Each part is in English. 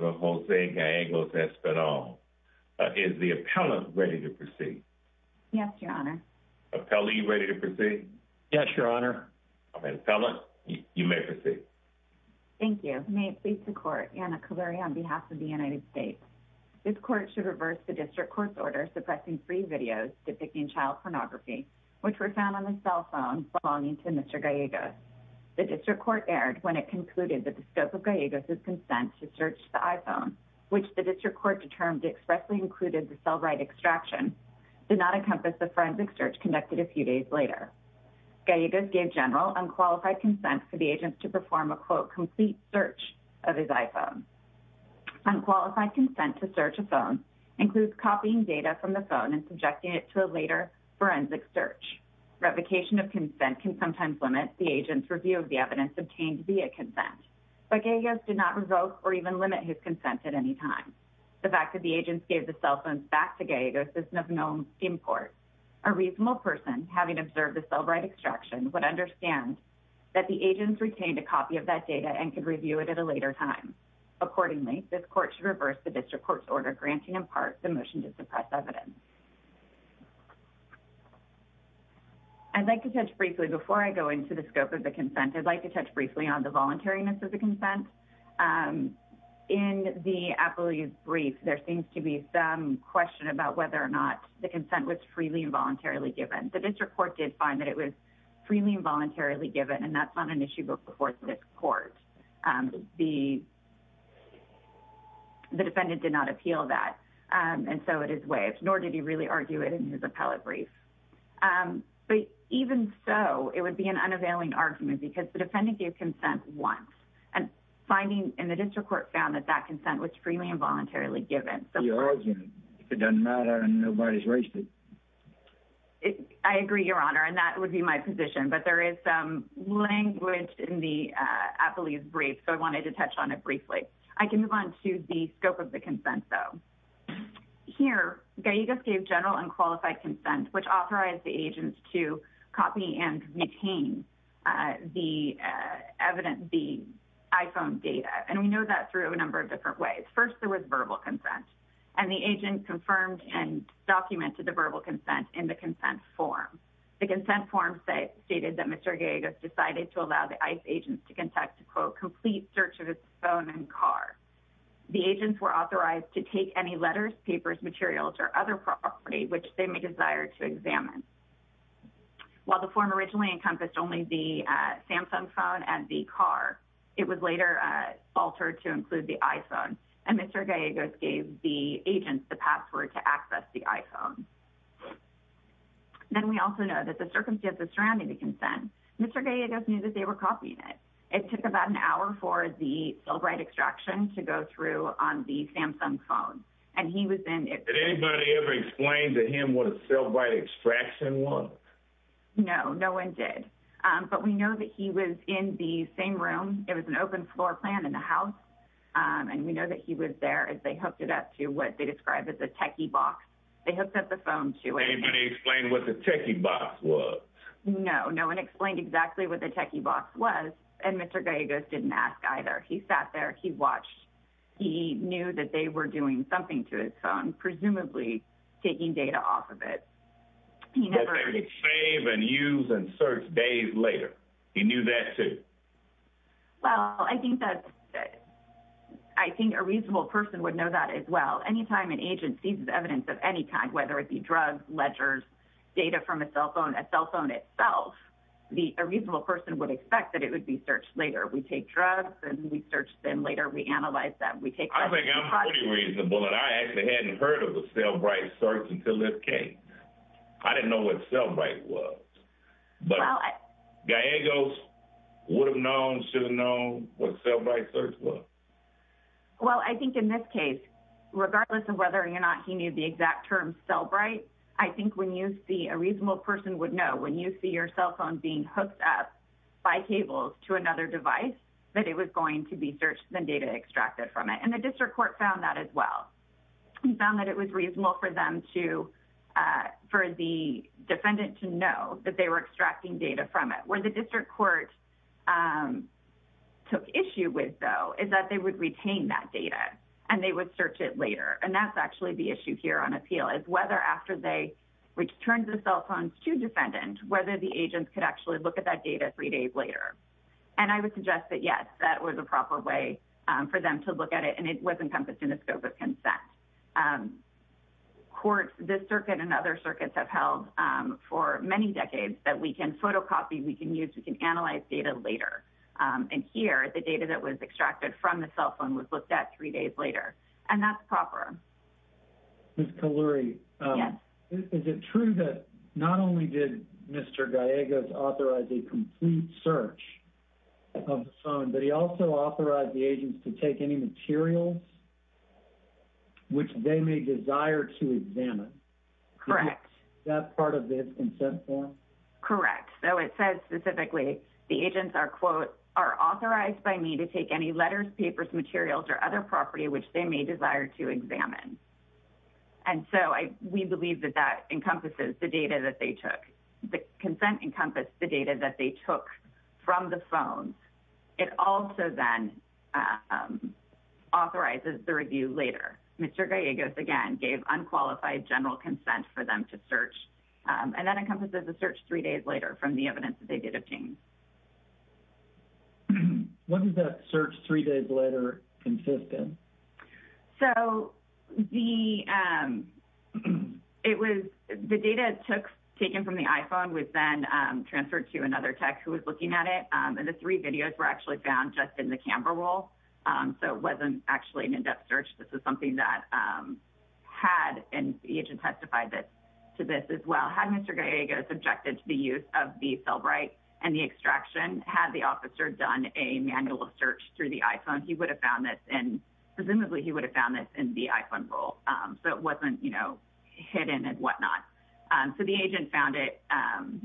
Jose Gallegos-Espinal. Is the appellant ready to proceed? Yes, your honor. Appellant, are you ready to proceed? Yes, your honor. Appellant, you may proceed. Thank you. May it please the court, Anna Caluri on behalf of the United States. This court should reverse the district court's order suppressing free videos depicting child pornography, which were found on the cell phone belonging to Mr. Gallegos. His consent to search the iPhone, which the district court determined expressly included the cell right extraction, did not encompass the forensic search conducted a few days later. Gallegos gave general unqualified consent for the agents to perform a, quote, complete search of his iPhone. Unqualified consent to search a phone includes copying data from the phone and subjecting it to a later forensic search. Revocation of consent can sometimes limit the agent's review of the evidence obtained via consent, but Gallegos did not revoke or even limit his consent at any time. The fact that the agents gave the cell phones back to Gallegos is of no import. A reasonable person, having observed the cell right extraction, would understand that the agents retained a copy of that data and could review it at a later time. Accordingly, this court should reverse the district court's order granting in part the motion to suppress evidence. I'd like to touch briefly, before I go into the scope of the consent, I'd like to touch briefly on whether or not the consent was freely and voluntarily given. The district court did find that it was freely and voluntarily given, and that's not an issue before this court. The defendant did not appeal that, and so it is waived, nor did he really argue it in his appellate brief. But even so, it would be an unavailing argument, because the finding in the district court found that that consent was freely and voluntarily given. It doesn't matter, and nobody's raised it. I agree, Your Honor, and that would be my position. But there is some language in the appellate brief, so I wanted to touch on it briefly. I can move on to the scope of the consent, though. Here, Gallegos gave general and qualified consent, which authorized the agents to copy and copy iPhone data, and we know that through a number of different ways. First, there was verbal consent, and the agent confirmed and documented the verbal consent in the consent form. The consent form stated that Mr. Gallegos decided to allow the ICE agents to conduct a, quote, complete search of his phone and car. The agents were authorized to take any letters, papers, materials, or other property which they may desire to examine. While the form originally encompassed only the Samsung phone and the car, it was later altered to include the iPhone, and Mr. Gallegos gave the agents the password to access the iPhone. Then we also know that the circumstances surrounding the consent, Mr. Gallegos knew that they were copying it. It took about an hour for the cellbrite extraction to go through on the Samsung phone, and he was in it. Did anybody ever explain to him what a cellbrite extraction was? No, no one did, but we know that he was in the same room. It was an open floor plan in the house, and we know that he was there as they hooked it up to what they describe as a techie box. They hooked up the phone to it. Anybody explain what the techie box was? No, no one explained exactly what the techie box was, and Mr. Gallegos didn't ask either. He sat there. He watched. He knew that they were doing something to his phone, presumably taking data off of it. But they would save and use and search days later. He knew that, too. Well, I think a reasonable person would know that as well. Anytime an agent sees evidence of any kind, whether it be drugs, ledgers, data from a cell phone, a cell phone itself, a reasonable person would expect that it would be searched later. We take drugs, and we search them later. We analyze them. I think I'm pretty reasonable, and I actually hadn't heard of a cellbrite. I didn't know what a cellbrite was, but Gallegos would have known, should have known what a cellbrite search was. Well, I think in this case, regardless of whether or not he knew the exact term cellbrite, I think a reasonable person would know when you see your cell phone being hooked up by cables to another device that it was going to be searched and data extracted from it, and the district court found that as defendant to know that they were extracting data from it. Where the district court took issue with, though, is that they would retain that data, and they would search it later. And that's actually the issue here on appeal, is whether after they returned the cell phones to defendant, whether the agent could actually look at that data three days later. And I would suggest that, yes, that was a proper way for them to look at it, and it was encompassed in the scope of consent. Courts, this circuit and other circuits have held for many decades that we can photocopy, we can use, we can analyze data later. And here, the data that was extracted from the cell phone was looked at three days later, and that's proper. Ms. Kalluri, is it true that not only did Mr. Gallegos authorize a complete search of the phone, but he also authorized the agents to take any materials which they may desire to examine? Correct. That part of the consent form? Correct. So, it says specifically, the agents are, quote, are authorized by me to take any letters, papers, materials, or other property which they may desire to examine. And so, we believe that that encompasses the data that they took. The consent encompassed the data that they took from the phones. It also then authorizes the review later. Mr. Gallegos, again, gave unqualified general consent for them to search. And that encompasses the search three days later from the evidence that they did obtain. Was that search three days later consistent? So, the data taken from the iPhone was then transferred to another tech who was looking at it. And the three videos were actually found just in the phone. And the agent testified to this as well. Had Mr. Gallegos objected to the use of the cell bright and the extraction, had the officer done a manual search through the iPhone, he would have found this in, presumably, he would have found this in the iPhone roll. So, it wasn't, you know, hidden and whatnot. So, the agent found it. And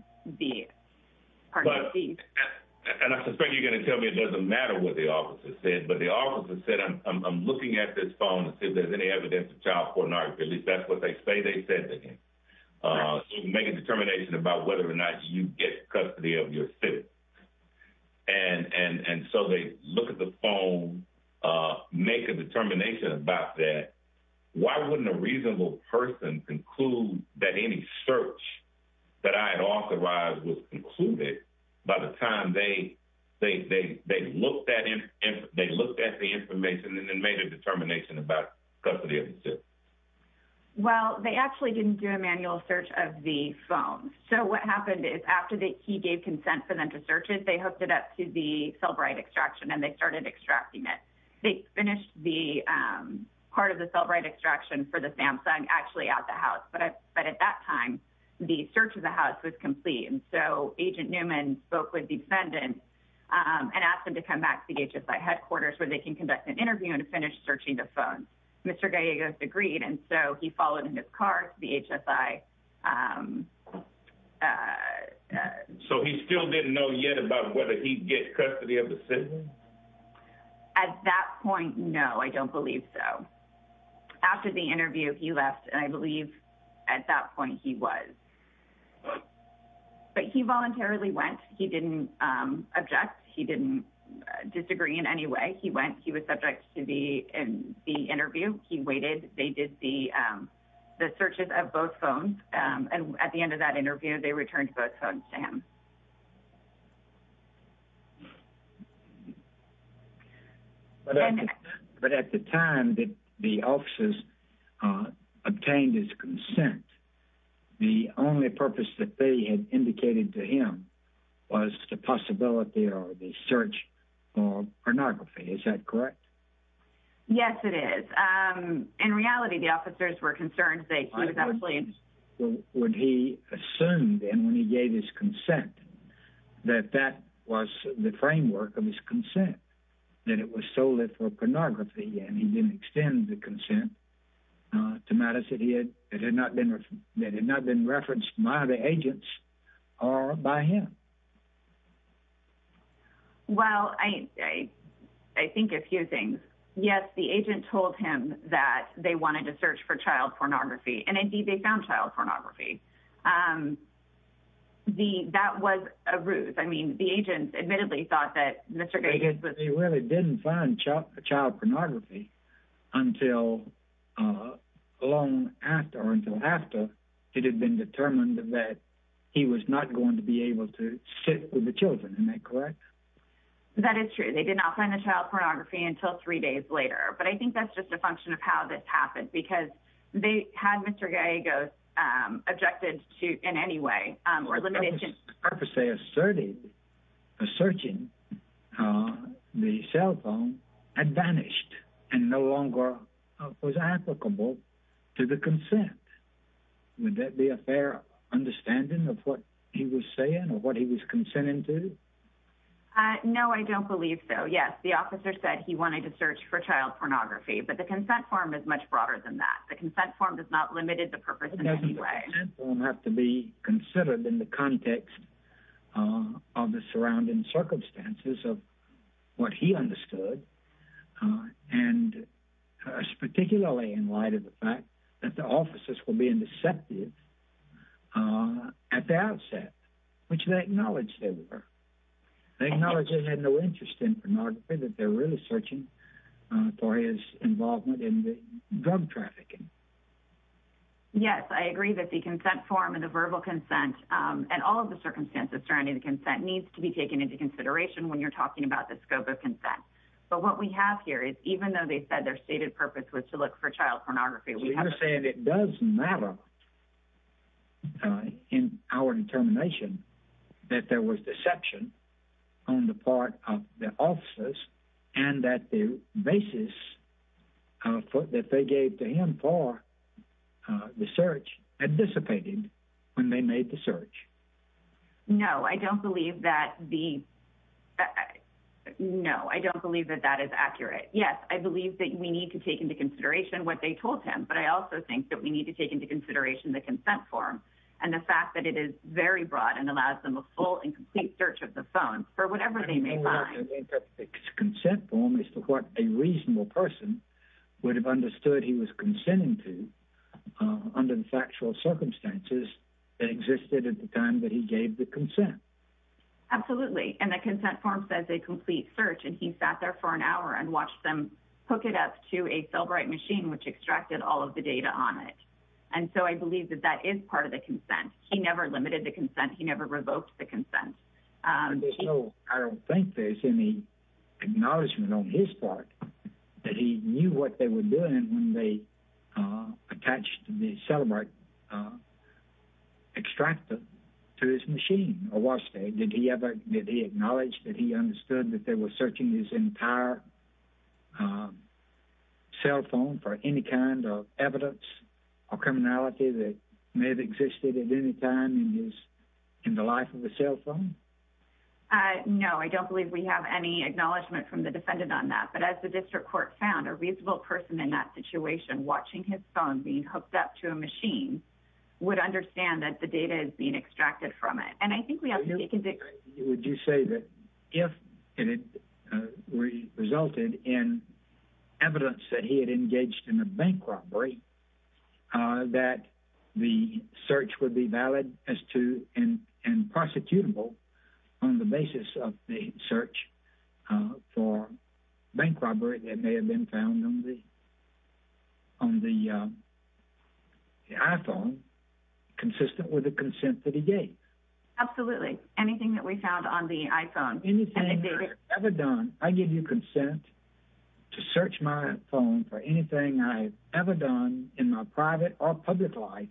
I suspect you're going to tell me it doesn't matter what the officer said. But the officer said, I'm looking at this phone to see if there's any evidence of child pornography. At least that's what they say they said to him. So, make a determination about whether or not you get custody of yourself. And so, they look at the phone, make a determination about that. Why wouldn't a reasonable person conclude that any search that I had authorized was concluded by the time they looked at the information and then make a determination about custody of himself? Well, they actually didn't do a manual search of the phone. So, what happened is after he gave consent for them to search it, they hooked it up to the cell bright extraction and they started extracting it. They finished the part of the cell bright extraction for the Samsung actually at the house. But at that time, the search of the house was complete. And so, Agent Newman spoke with the defendant and asked him to come back to the phone. Mr. Gallegos agreed. And so, he followed in his car to the HSI. So, he still didn't know yet about whether he'd get custody of the citizen? At that point, no. I don't believe so. After the interview, he left. And I believe at that point he was. But he voluntarily went. He didn't object. He didn't disagree in any way. He went. He was subject to the interview. He waited. They did the searches of both phones. And at the end of that interview, they returned both phones to him. But at the time that the officers obtained his consent, the only purpose that they had indicated to him was the possibility or the search for pornography. Is that correct? Yes, it is. In reality, the officers were concerned that he was actually interested. Would he assume, then, when he gave his consent, that that was the framework of his consent? That it was so lit for pornography and he didn't extend the consent to matters that had not been referenced by the agents or by him? Well, I think a few things. Yes, the agent told him that they wanted to search for child pornography. And indeed, they found child pornography. That was a ruse. I mean, the agents admittedly thought that Mr. Gages was They really didn't find child pornography until long after or until after it had been determined that he was not going to be able to sit with the children. Am I correct? That is true. They did not find the child pornography until three days later. But I think that's just a function of how this happened, because they had Mr. Gages objected to in any way. The purpose they asserted, searching the cell phone, had vanished and no Would that be a fair understanding of what he was saying or what he was consenting to? No, I don't believe so. Yes, the officer said he wanted to search for child pornography. But the consent form is much broader than that. The consent form does not limit the purpose in any way. Doesn't the consent form have to be considered in the context of the surrounding circumstances of what he understood? And particularly in light that the officers were being deceptive at the outset, which they acknowledged they were. They acknowledged they had no interest in pornography, that they're really searching for his involvement in the drug trafficking. Yes, I agree that the consent form and the verbal consent and all of the circumstances surrounding the consent needs to be taken into consideration when you're talking about the scope of consent. But what we have here is even though they said their stated purpose was to look for child pornography. So you're saying it does matter in our determination that there was deception on the part of the officers and that the basis that they gave to him for the search had dissipated when they made the search? No, I don't believe that the No, I don't believe that that is accurate. Yes, I believe that we need to take into consideration what they told him. But I also think that we need to take into consideration the consent form and the fact that it is very broad and allows them a full and complete search of the phone for whatever they may find. I think that the consent form is to what a reasonable person would have understood he was consenting to under the factual circumstances that existed at the time that he gave the consent. Absolutely. And the consent form says a complete search and he sat there for an hour and watched them hook it up to a cell bright machine, which extracted all of the data on it. And so I believe that that is part of the consent. He never limited the consent. He never revoked the consent. I don't think there's any acknowledgement on his part that he knew what they were doing when they attached the celibate extractor to his machine or watched it. Did he ever did he acknowledge that he understood that they were searching his entire cell phone for any kind of evidence or criminality that may have existed at any time in the life of a cell phone? No, I don't believe we have any acknowledgement from the defendant on that. But as the district court found a reasonable person in that situation watching his phone being hooked up to a machine would understand that the data is being extracted from it. I think we have to be convicted. Would you say that if it resulted in evidence that he had engaged in a bank robbery that the search would be valid as to and prosecutable on the basis of the search for bank robbery that may have been found on the iPhone consistent with the consent that he gave? Absolutely. Anything that we found on the iPhone. Anything you've ever done, I give you consent to search my phone for anything I've ever done in my private or public life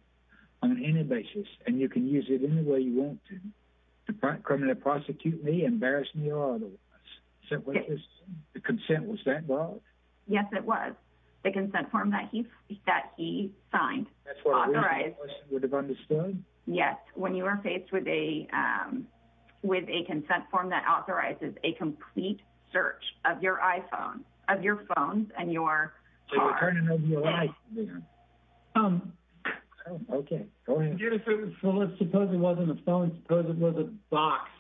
on any basis and you can use it any way you want to. Criminal prosecute me, embarrass me or otherwise. So what is the consent? Was that valid? Yes, it was. The consent form that he signed. That's what a reasonable person would have understood? Yes. When you are faced with a consent form that authorizes a complete search of your iPhone, of your phone and your car. The return of your life. Okay, go ahead. Suppose it wasn't a phone. Suppose it was a box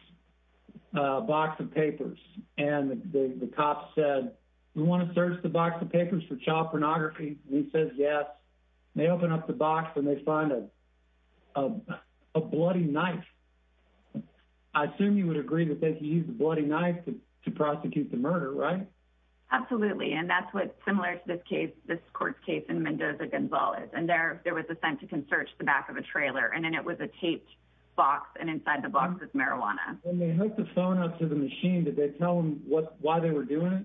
of papers and the cop said, we want to search the box of papers for child pornography. He says yes. They open up the box and they find a bloody knife. I assume you would agree that they could use the bloody knife to prosecute the murder, right? Absolutely. And that's what's similar to this case, this court case in Mendoza-Gonzalez. And there was a sense you can search the back of a trailer and then it was a taped box and inside the box was marijuana. When they hooked the phone up to the machine, did they tell him why they were doing it?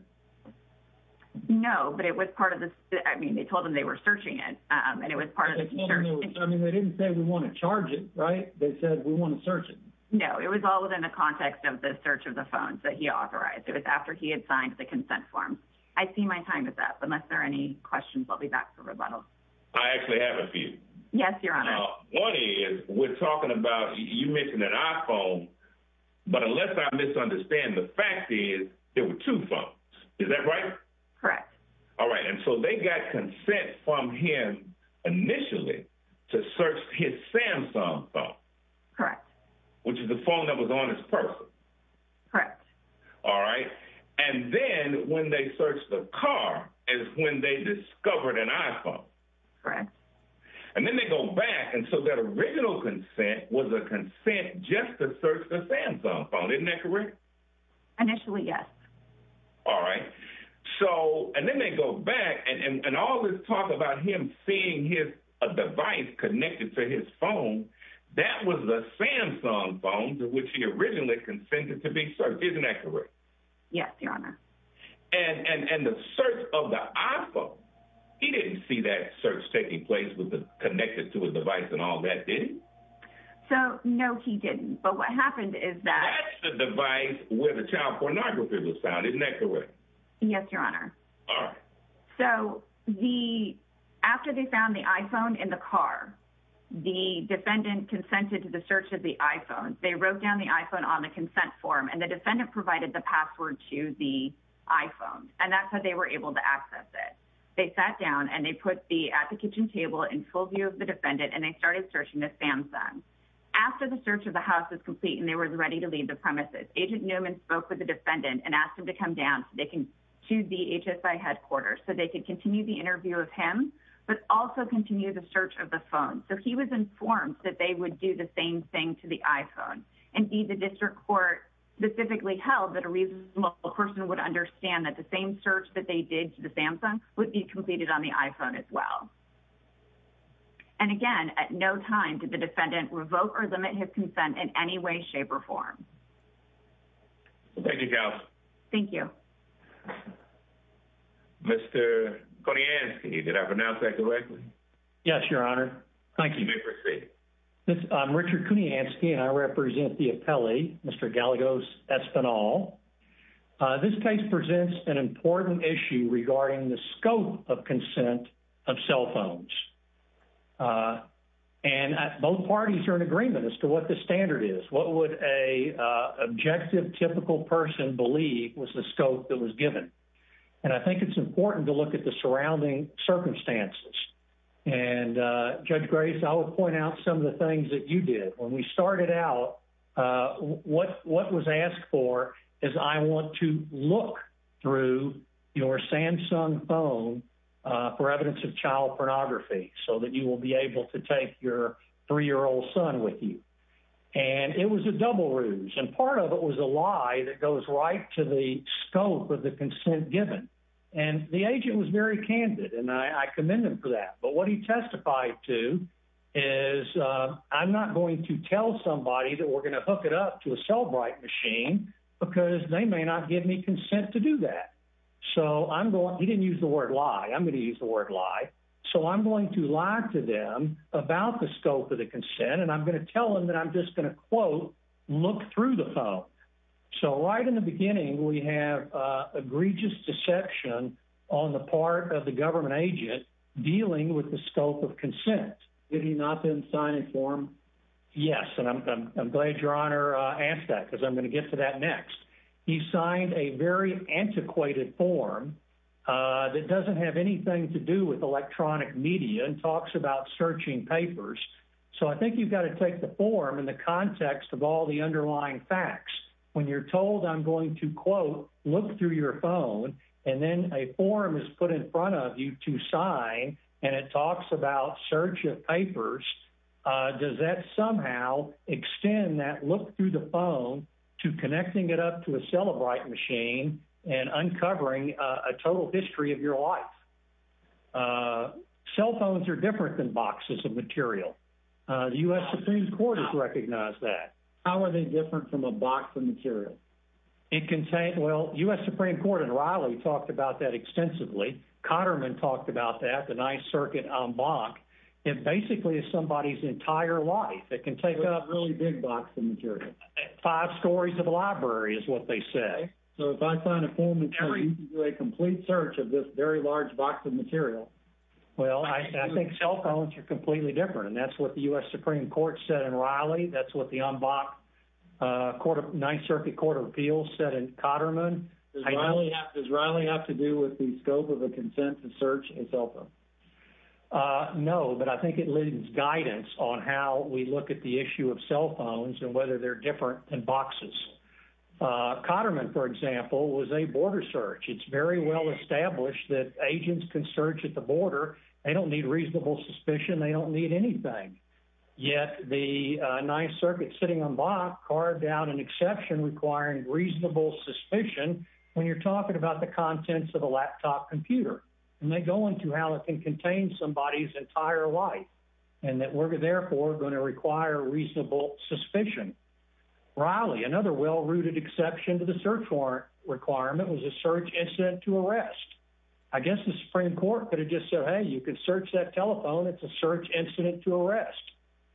No, but it was part of this. I mean, they told him they were searching it and it was part of the search. I mean, they didn't say we want to charge it, right? They said we want to search it. No, it was all within the context of the search of the phones that he authorized. It was after he had signed the consent form. I see my time is up. Unless there are any questions, I'll be back for rebuttal. I actually have a few. Yes, Your Honor. One is, we're talking about, you mentioned an iPhone, but unless I misunderstand, the fact is there were two phones. Is that right? Correct. All right. And so they got consent from him initially to search his Samsung phone. Correct. Which is the phone that was on his person. Correct. All right. And then when they searched the car is when they discovered an iPhone. Correct. And then they go back. And so that original consent was a consent just to search the Samsung phone. Isn't that correct? Initially, yes. All right. So, and then they go back and all this talk about him seeing his device connected to his phone. That was the Samsung phone to which he originally consented to be searched. Isn't that correct? Yes, Your Honor. And the search of the iPhone, he didn't see that search taking place with the connected to his device and all that, did he? So, no, he didn't. But what happened is that- Where the child pornography was found. Isn't that correct? Yes, Your Honor. All right. So, after they found the iPhone in the car, the defendant consented to the search of the iPhone. They wrote down the iPhone on the consent form. And the defendant provided the password to the iPhone. And that's how they were able to access it. They sat down and they put the at the kitchen table in full view of the defendant. And they started searching the Samsung. After the search of the house was complete and they were ready to leave the premises, Agent Newman spoke with the defendant and asked him to come down to the HSI headquarters so they could continue the interview of him, but also continue the search of the phone. So, he was informed that they would do the same thing to the iPhone. Indeed, the district court specifically held that a reasonable person would understand that the same search that they did to the Samsung would be completed on the iPhone as well. And again, at no time did the defendant revoke or limit his consent in any way, shape, or form. Thank you, counsel. Thank you. Mr. Kuniansky, did I pronounce that correctly? Yes, your honor. Thank you. I'm Richard Kuniansky and I represent the appellee, Mr. Galagos Espinal. This case presents an important issue regarding the scope of consent of cell phones. And both parties are in agreement as to what the standard is. What would an objective, typical person believe was the scope that was given? And I think it's important to look at the surrounding circumstances. And Judge Grace, I will point out some of the things that you did. When we started out, what was asked for is, I want to look through your Samsung phone for evidence of child pornography so that you will be able to take your three-year-old son with you. And it was a double ruse. And part of it was a lie that goes right to the scope of the consent given. And the agent was very candid and I commend him for that. But what he testified to is, I'm not going to tell somebody that we're going to hook it up to a Cellbrite machine because they may not give me consent to do that. So I'm going, he didn't use the word lie. I'm going to use the word lie. So I'm going to lie to them about the scope of the consent. And I'm going to tell them that I'm just going to, quote, look through the phone. So right in the beginning, we have egregious deception on the part of the government agent dealing with the scope of consent. Did he not then sign a form? Yes. And I'm glad your Honor asked that because I'm going to get to that next. He signed a very antiquated form that doesn't have anything to do with electronic media and talks about searching papers. So I think you've got to take the form in the context of all the underlying facts. When you're told I'm going to, quote, look through your phone and then a form is put in front of you to sign and it talks about search of papers, does that somehow extend that look through the phone to connecting it up to a Cellbrite machine and uncovering a total history of your life? Cell phones are different than boxes of material. The U.S. Supreme Court has recognized that. How are they different from a box of material? It contains, well, U.S. Supreme Court and Riley talked about that extensively. Cotterman talked about that, the Ninth Circuit en banc. It basically is somebody's entire life. It can take up really big boxes of material. Five stories of a library is what they say. So if I sign a form and tell you to do a complete search of this very large box of material? Well, I think cell phones are completely different, and that's what the U.S. Supreme Court said in Riley. That's what the en banc Ninth Circuit Court of Appeals said in Cotterman. Does Riley have to do with the scope of a consent to search a cell phone? No, but I think it leads guidance on how we look at the issue of cell phones and whether they're different than boxes. Cotterman, for example, was a border search. It's very well established that agents can search at the border. They don't need reasonable suspicion. They don't need anything. Yet the Ninth Circuit sitting en banc carved out an exception requiring reasonable suspicion when you're talking about the contents of a laptop computer. And they go into how it can contain somebody's entire life and that we're therefore going to require reasonable suspicion. Riley, another well-rooted exception to the search warrant requirement was a search incident to arrest. I guess the Supreme Court could have just said, hey, you can search that telephone. It's a search incident to arrest.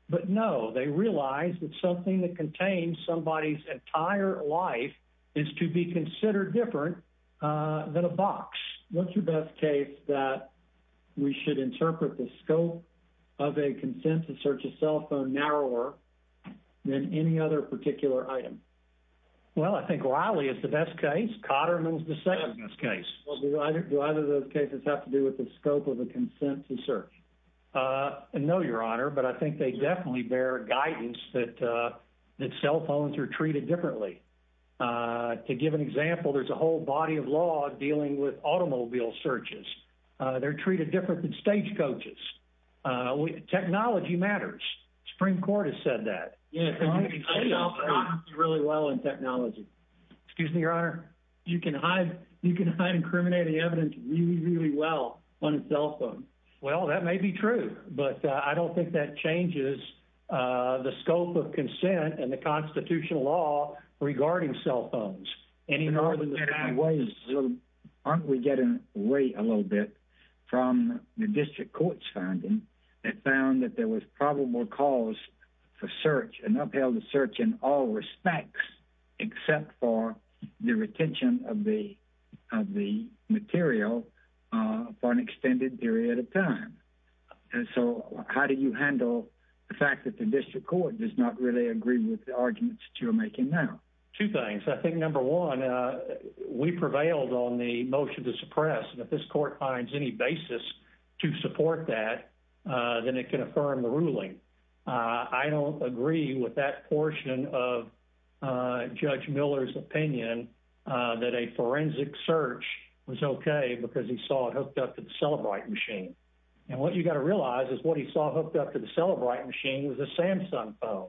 But no, they realized that something that contains somebody's entire life is to be considered different than a box. What's your best case that we should interpret the scope of a consent to search a cell phone narrower than any other particular item? Well, I think Riley is the best case. Cotterman is the second best case. Do either of those cases have to do with the scope of a consent to search? No, Your Honor. But I think they definitely bear guidance that cell phones are treated differently. To give an example, there's a whole body of law dealing with automobile searches. They're treated different than stagecoaches. Technology matters. Supreme Court has said that. Yes. Really well in technology. Excuse me, Your Honor. You can hide incriminating evidence really, really well on a cell phone. Well, that may be true. But I don't think that changes the scope of consent and the constitutional law regarding cell phones any more than the common ways. Aren't we getting away a little bit from the district court's finding? They found that there was probable cause for search and upheld the search in all respects, except for the retention of the material for an extended period of time. And so how do you handle the fact that the district court does not really agree with the arguments that you're making now? Two things. I think, number one, we prevailed on the motion to suppress. If this court finds any basis to support that, then it can affirm the ruling. I don't agree with that portion of Judge Miller's opinion that a forensic search was OK because he saw it hooked up to the Celebrite machine. And what you got to realize is what he saw hooked up to the Celebrite machine was a Samsung phone.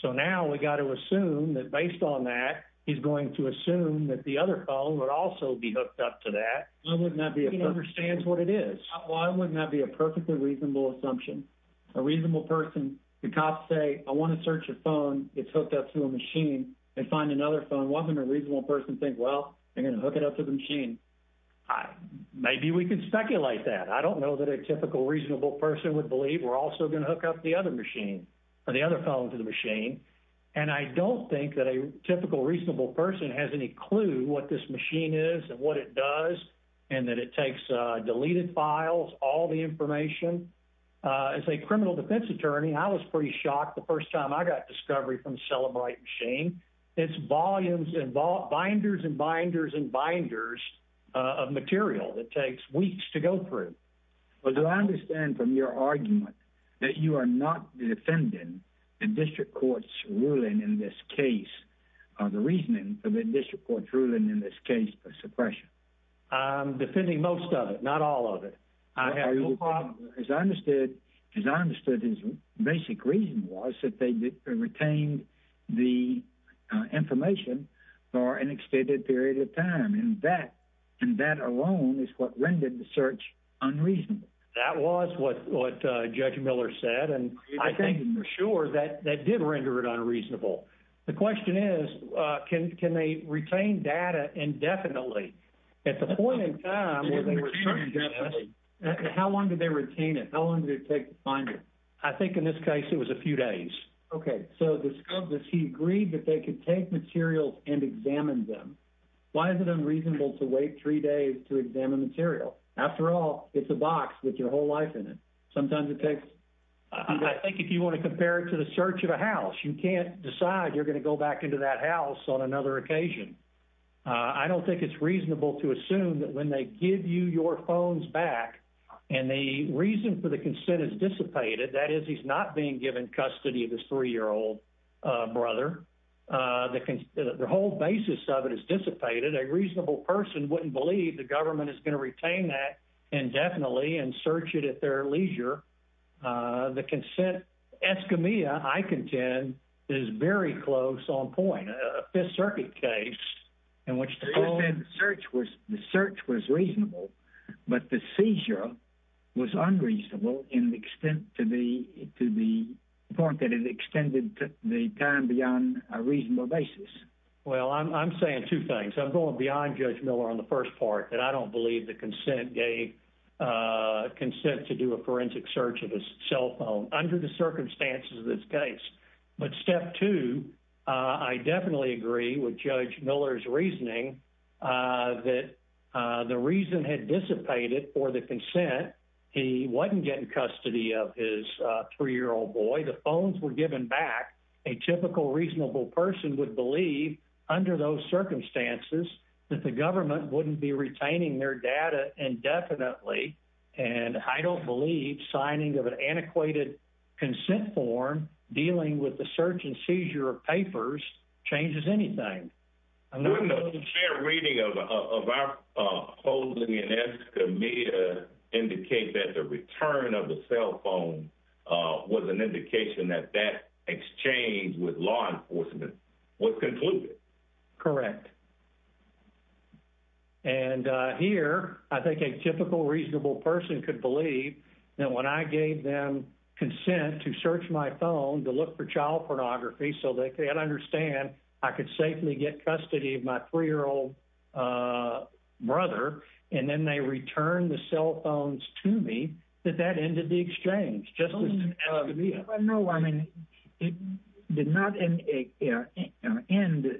So now we got to assume that based on that, he's going to assume that the other phone would also be hooked up to that. He understands what it is. Why wouldn't that be a perfectly reasonable assumption? A reasonable person, the cops say, I want to search a phone that's hooked up to a machine and find another phone. Why wouldn't a reasonable person think, well, they're going to hook it up to the machine? Maybe we can speculate that. I don't know that a typical reasonable person would believe we're also going to hook up the other machine or the other phone to the machine. And I don't think that a typical reasonable person has any clue what this machine is and what it does and that it takes deleted files, all the information. As a criminal defense attorney, I was pretty shocked the first time I got discovery from Celebrite machine. It's volumes involved, binders and binders and binders of material that takes weeks to go through. Do I understand from your argument that you are not defending the district court's ruling in this case or the reasoning of the district court's ruling in this case of suppression? I'm defending most of it, not all of it. I have no problem. As I understood, his basic reason was that they retained the information for an extended period of time. And that alone is what rendered the search unreasonable. That was what Judge Miller said. And I think for sure that did render it unreasonable. The question is, can they retain data indefinitely? At the point in time, how long did they retain it? How long did it take to find it? I think in this case it was a few days. Okay. So he agreed that they could take materials and examine them. Why is it unreasonable to wait three days to examine material? After all, it's a box with your whole life in it. Sometimes it takes... I think if you want to compare it to the search of a house, you can't decide you're going to go back into that house on another occasion. I don't think it's reasonable to assume that when they give you your phones back and the reason for the consent is dissipated, that is he's not being given custody of his three-year-old brother, the whole basis of it is dissipated. A reasonable person wouldn't believe the government is going to retain that indefinitely and search it at their leisure. The consent eschemia, I contend, is very close on point. A Fifth Circuit case in which the search was reasonable, but the seizure was unreasonable in the extent to the point that it extended the time beyond a reasonable basis. Well, I'm saying two things. I'm going beyond Judge Miller on the first part, that I don't believe the consent gave a consent to do a forensic search of his cell phone under the circumstances of this case. But step two, I definitely agree with Judge Miller's reasoning that the reason had dissipated for the consent. He wasn't getting custody of his three-year-old boy. The phones were given back. A typical reasonable person would believe under those circumstances that the government wouldn't be retaining their data indefinitely, and I don't believe signing of an antiquated consent form dealing with the search and seizure of papers changes anything. Wouldn't a fair reading of our holding and eschemia indicate that the return of the cell phone was an indication that that exchange with law enforcement was concluded? Correct. And here, I think a typical reasonable person could believe that when I gave them consent to search my phone to look for child pornography so they can understand I could safely get custody of my three-year-old brother, and then they returned the cell phones to me, that that ended the exchange. I mean, it did not end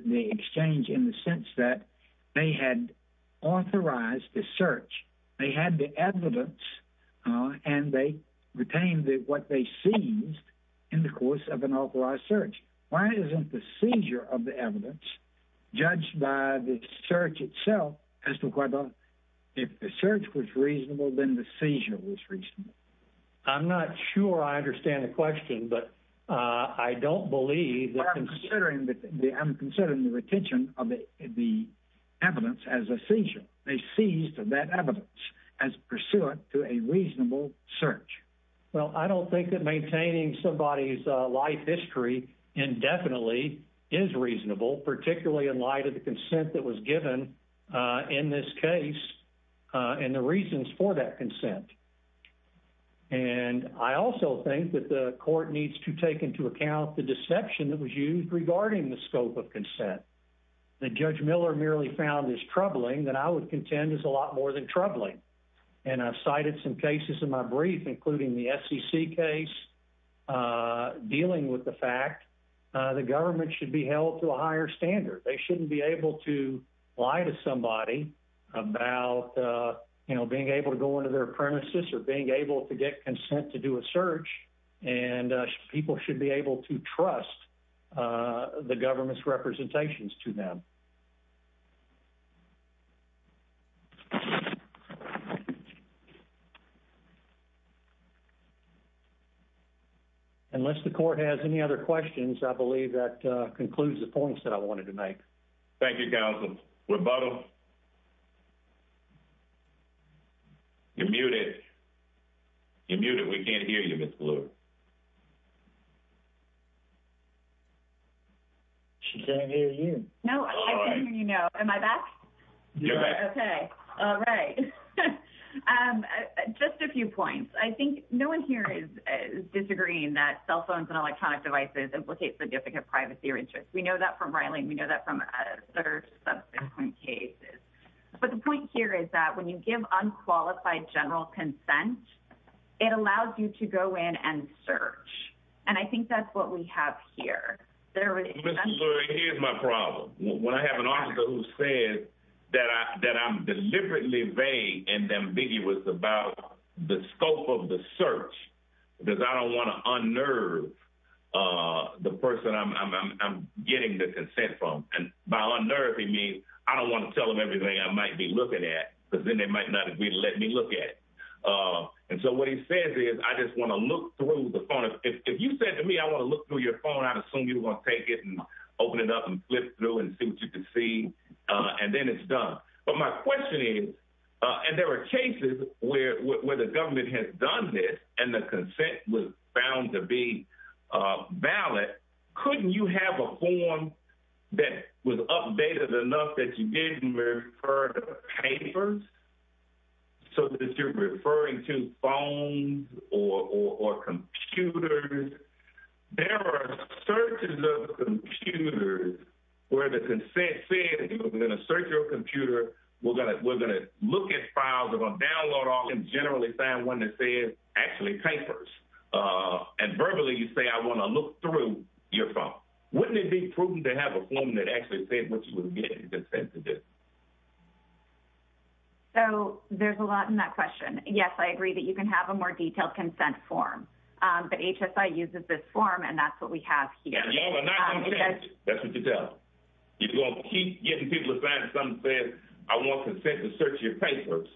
the exchange in the sense that they had authorized the search. They had the evidence, and they retained what they seized in the course of an authorized search. Why isn't the seizure of the evidence judged by the search itself as to whether if the search was reasonable, then the seizure was reasonable? I'm not sure I understand the question, but I don't believe that... I'm considering the retention of the evidence as a seizure. They seized that evidence as pursuant to a reasonable search. Well, I don't think that maintaining somebody's life history indefinitely is reasonable, particularly in light of the consent that was given in this case and the reasons for that consent. I also think that the court needs to take into account the deception that was used regarding the scope of consent that Judge Miller merely found as troubling that I would contend is a lot more than troubling. I've cited some cases in my brief, including the SEC case, dealing with the fact the government should be held to a higher standard. They shouldn't be able to lie to somebody about being able to go into their premises or being able to get consent to do a search, and people should be able to trust the government's representations to them. Unless the court has any other questions, I believe that concludes the points that I wanted to make. Thank you, counsel. Rebuttal. You're muted. You're muted. We can't hear you, Ms. Bloor. She can't hear you. No, I can hear you now. Am I back? You're back. Okay. All right. Just a few points. I think no one here is disagreeing that cell phones and electronic devices implicate significant privacy or interest. We know that from Rylan. We know that from other subsequent cases. But the point here is that when you give unqualified general consent, it allows you to go in and search, and I think that's what we have here. Ms. Bloor, here's my problem. When I have an officer who says that I'm deliberately vague and ambiguous about the scope of the search, because I don't want to unnerve the person I'm getting the consent from. By unnerving me, I don't want to tell them everything I might be looking at, because then they might not agree to let me look at it. So what he says is, I just want to look through the phone. If you said to me, I want to look through your phone, I'd assume you were going to take it and open it up and flip through and see what you can see, and then it's done. But my question is, and there are cases where the government has done this and the consent was found to be valid, couldn't you have a form that was updated enough that you didn't refer to papers? So if you're referring to phones or computers, there are searches of computers where the consent says, we're going to search your computer, we're going to look at files, we're going to and verbally you say, I want to look through your phone. Wouldn't it be prudent to have a form that actually said what you were getting consent to do? So there's a lot in that question. Yes, I agree that you can have a more detailed consent form, but HSI uses this form, and that's what we have here. And you all are not going to change it. That's what you tell. You're going to keep getting people to sign something saying, I want consent to search your papers,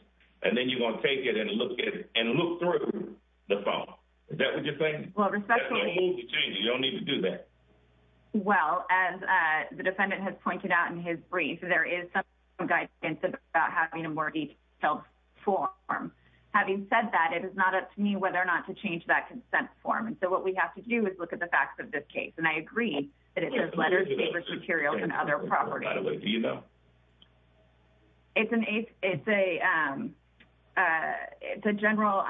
and then you're going to take it and look through the phone. Well, respectfully, you don't need to do that. Well, as the defendant has pointed out in his brief, there is some guidance about having a more detailed form. Having said that, it is not up to me whether or not to change that consent form. And so what we have to do is look at the facts of this case. And I agree that it says letters, papers, materials, and other properties. By the way, do you know? It's a general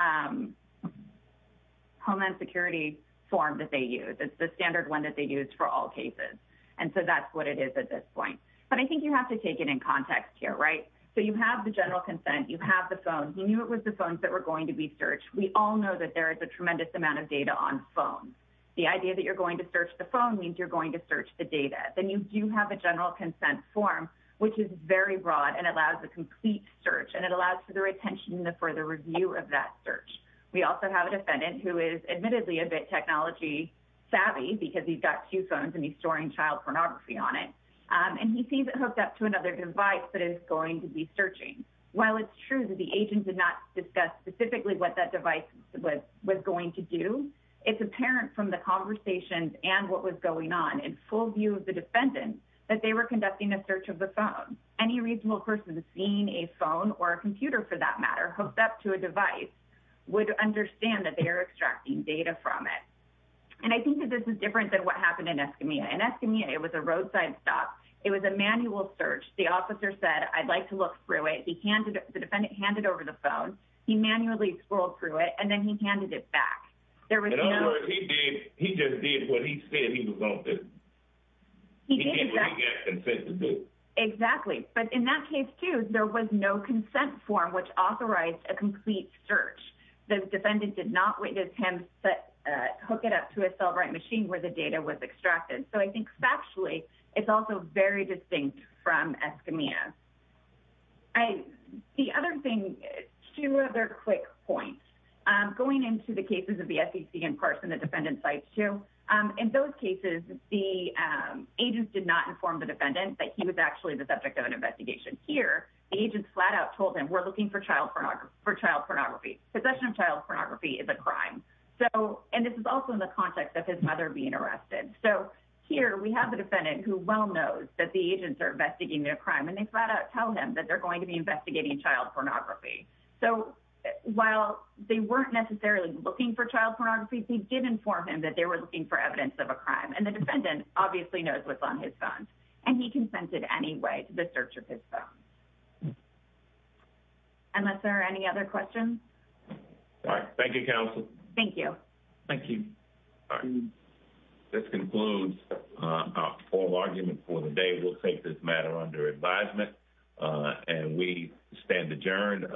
Homeland Security form that they use. It's the standard one that they use for all cases. And so that's what it is at this point. But I think you have to take it in context here, right? So you have the general consent. You have the phone. You knew it was the phones that were going to be searched. We all know that there is a tremendous amount of data on phones. The idea that you're going to search the phone means you're going to search the data. Then you do have a general consent form, which is very broad and allows a complete search. And it allows for the retention and the further review of that search. We also have a defendant who is admittedly a bit technology savvy because he's got two phones and he's storing child pornography on it. And he sees it hooked up to another device that is going to be searching. While it's true that the agent did not discuss specifically what that device was going to do, it's apparent from the conversations and what was going on. In full view of the defendant, that they were conducting a search of the phone. Any reasonable person seeing a phone or a computer for that matter, hooked up to a device, would understand that they are extracting data from it. And I think that this is different than what happened in Escamilla. In Escamilla, it was a roadside stop. It was a manual search. The officer said, I'd like to look through it. He handed it, the defendant handed over the phone. He manually scrolled through it and then he handed it back. There was no- He did what he had consent to do. Exactly. But in that case too, there was no consent form which authorized a complete search. The defendant did not witness him hook it up to a cell right machine where the data was extracted. So I think factually, it's also very distinct from Escamilla. The other thing, two other quick points. Going into the cases of the SEC and Parson, the defendant cites two. In those cases, the agent did not inform the defendant that he was actually the subject of an investigation. Here, the agent flat out told him, we're looking for child pornography. Possession of child pornography is a crime. So, and this is also in the context of his mother being arrested. So here, we have a defendant who well knows that the agents are investigating a crime and they flat out tell him that they're going to be investigating child pornography. So while they weren't necessarily looking for child pornography, they did inform him that they were looking for evidence of a crime. And the defendant obviously knows what's on his phone. And he consented anyway to the search of his phone. Unless there are any other questions. All right. Thank you, counsel. Thank you. Thank you. This concludes our formal argument for the day. We'll take this matter under advisement and we stand adjourned.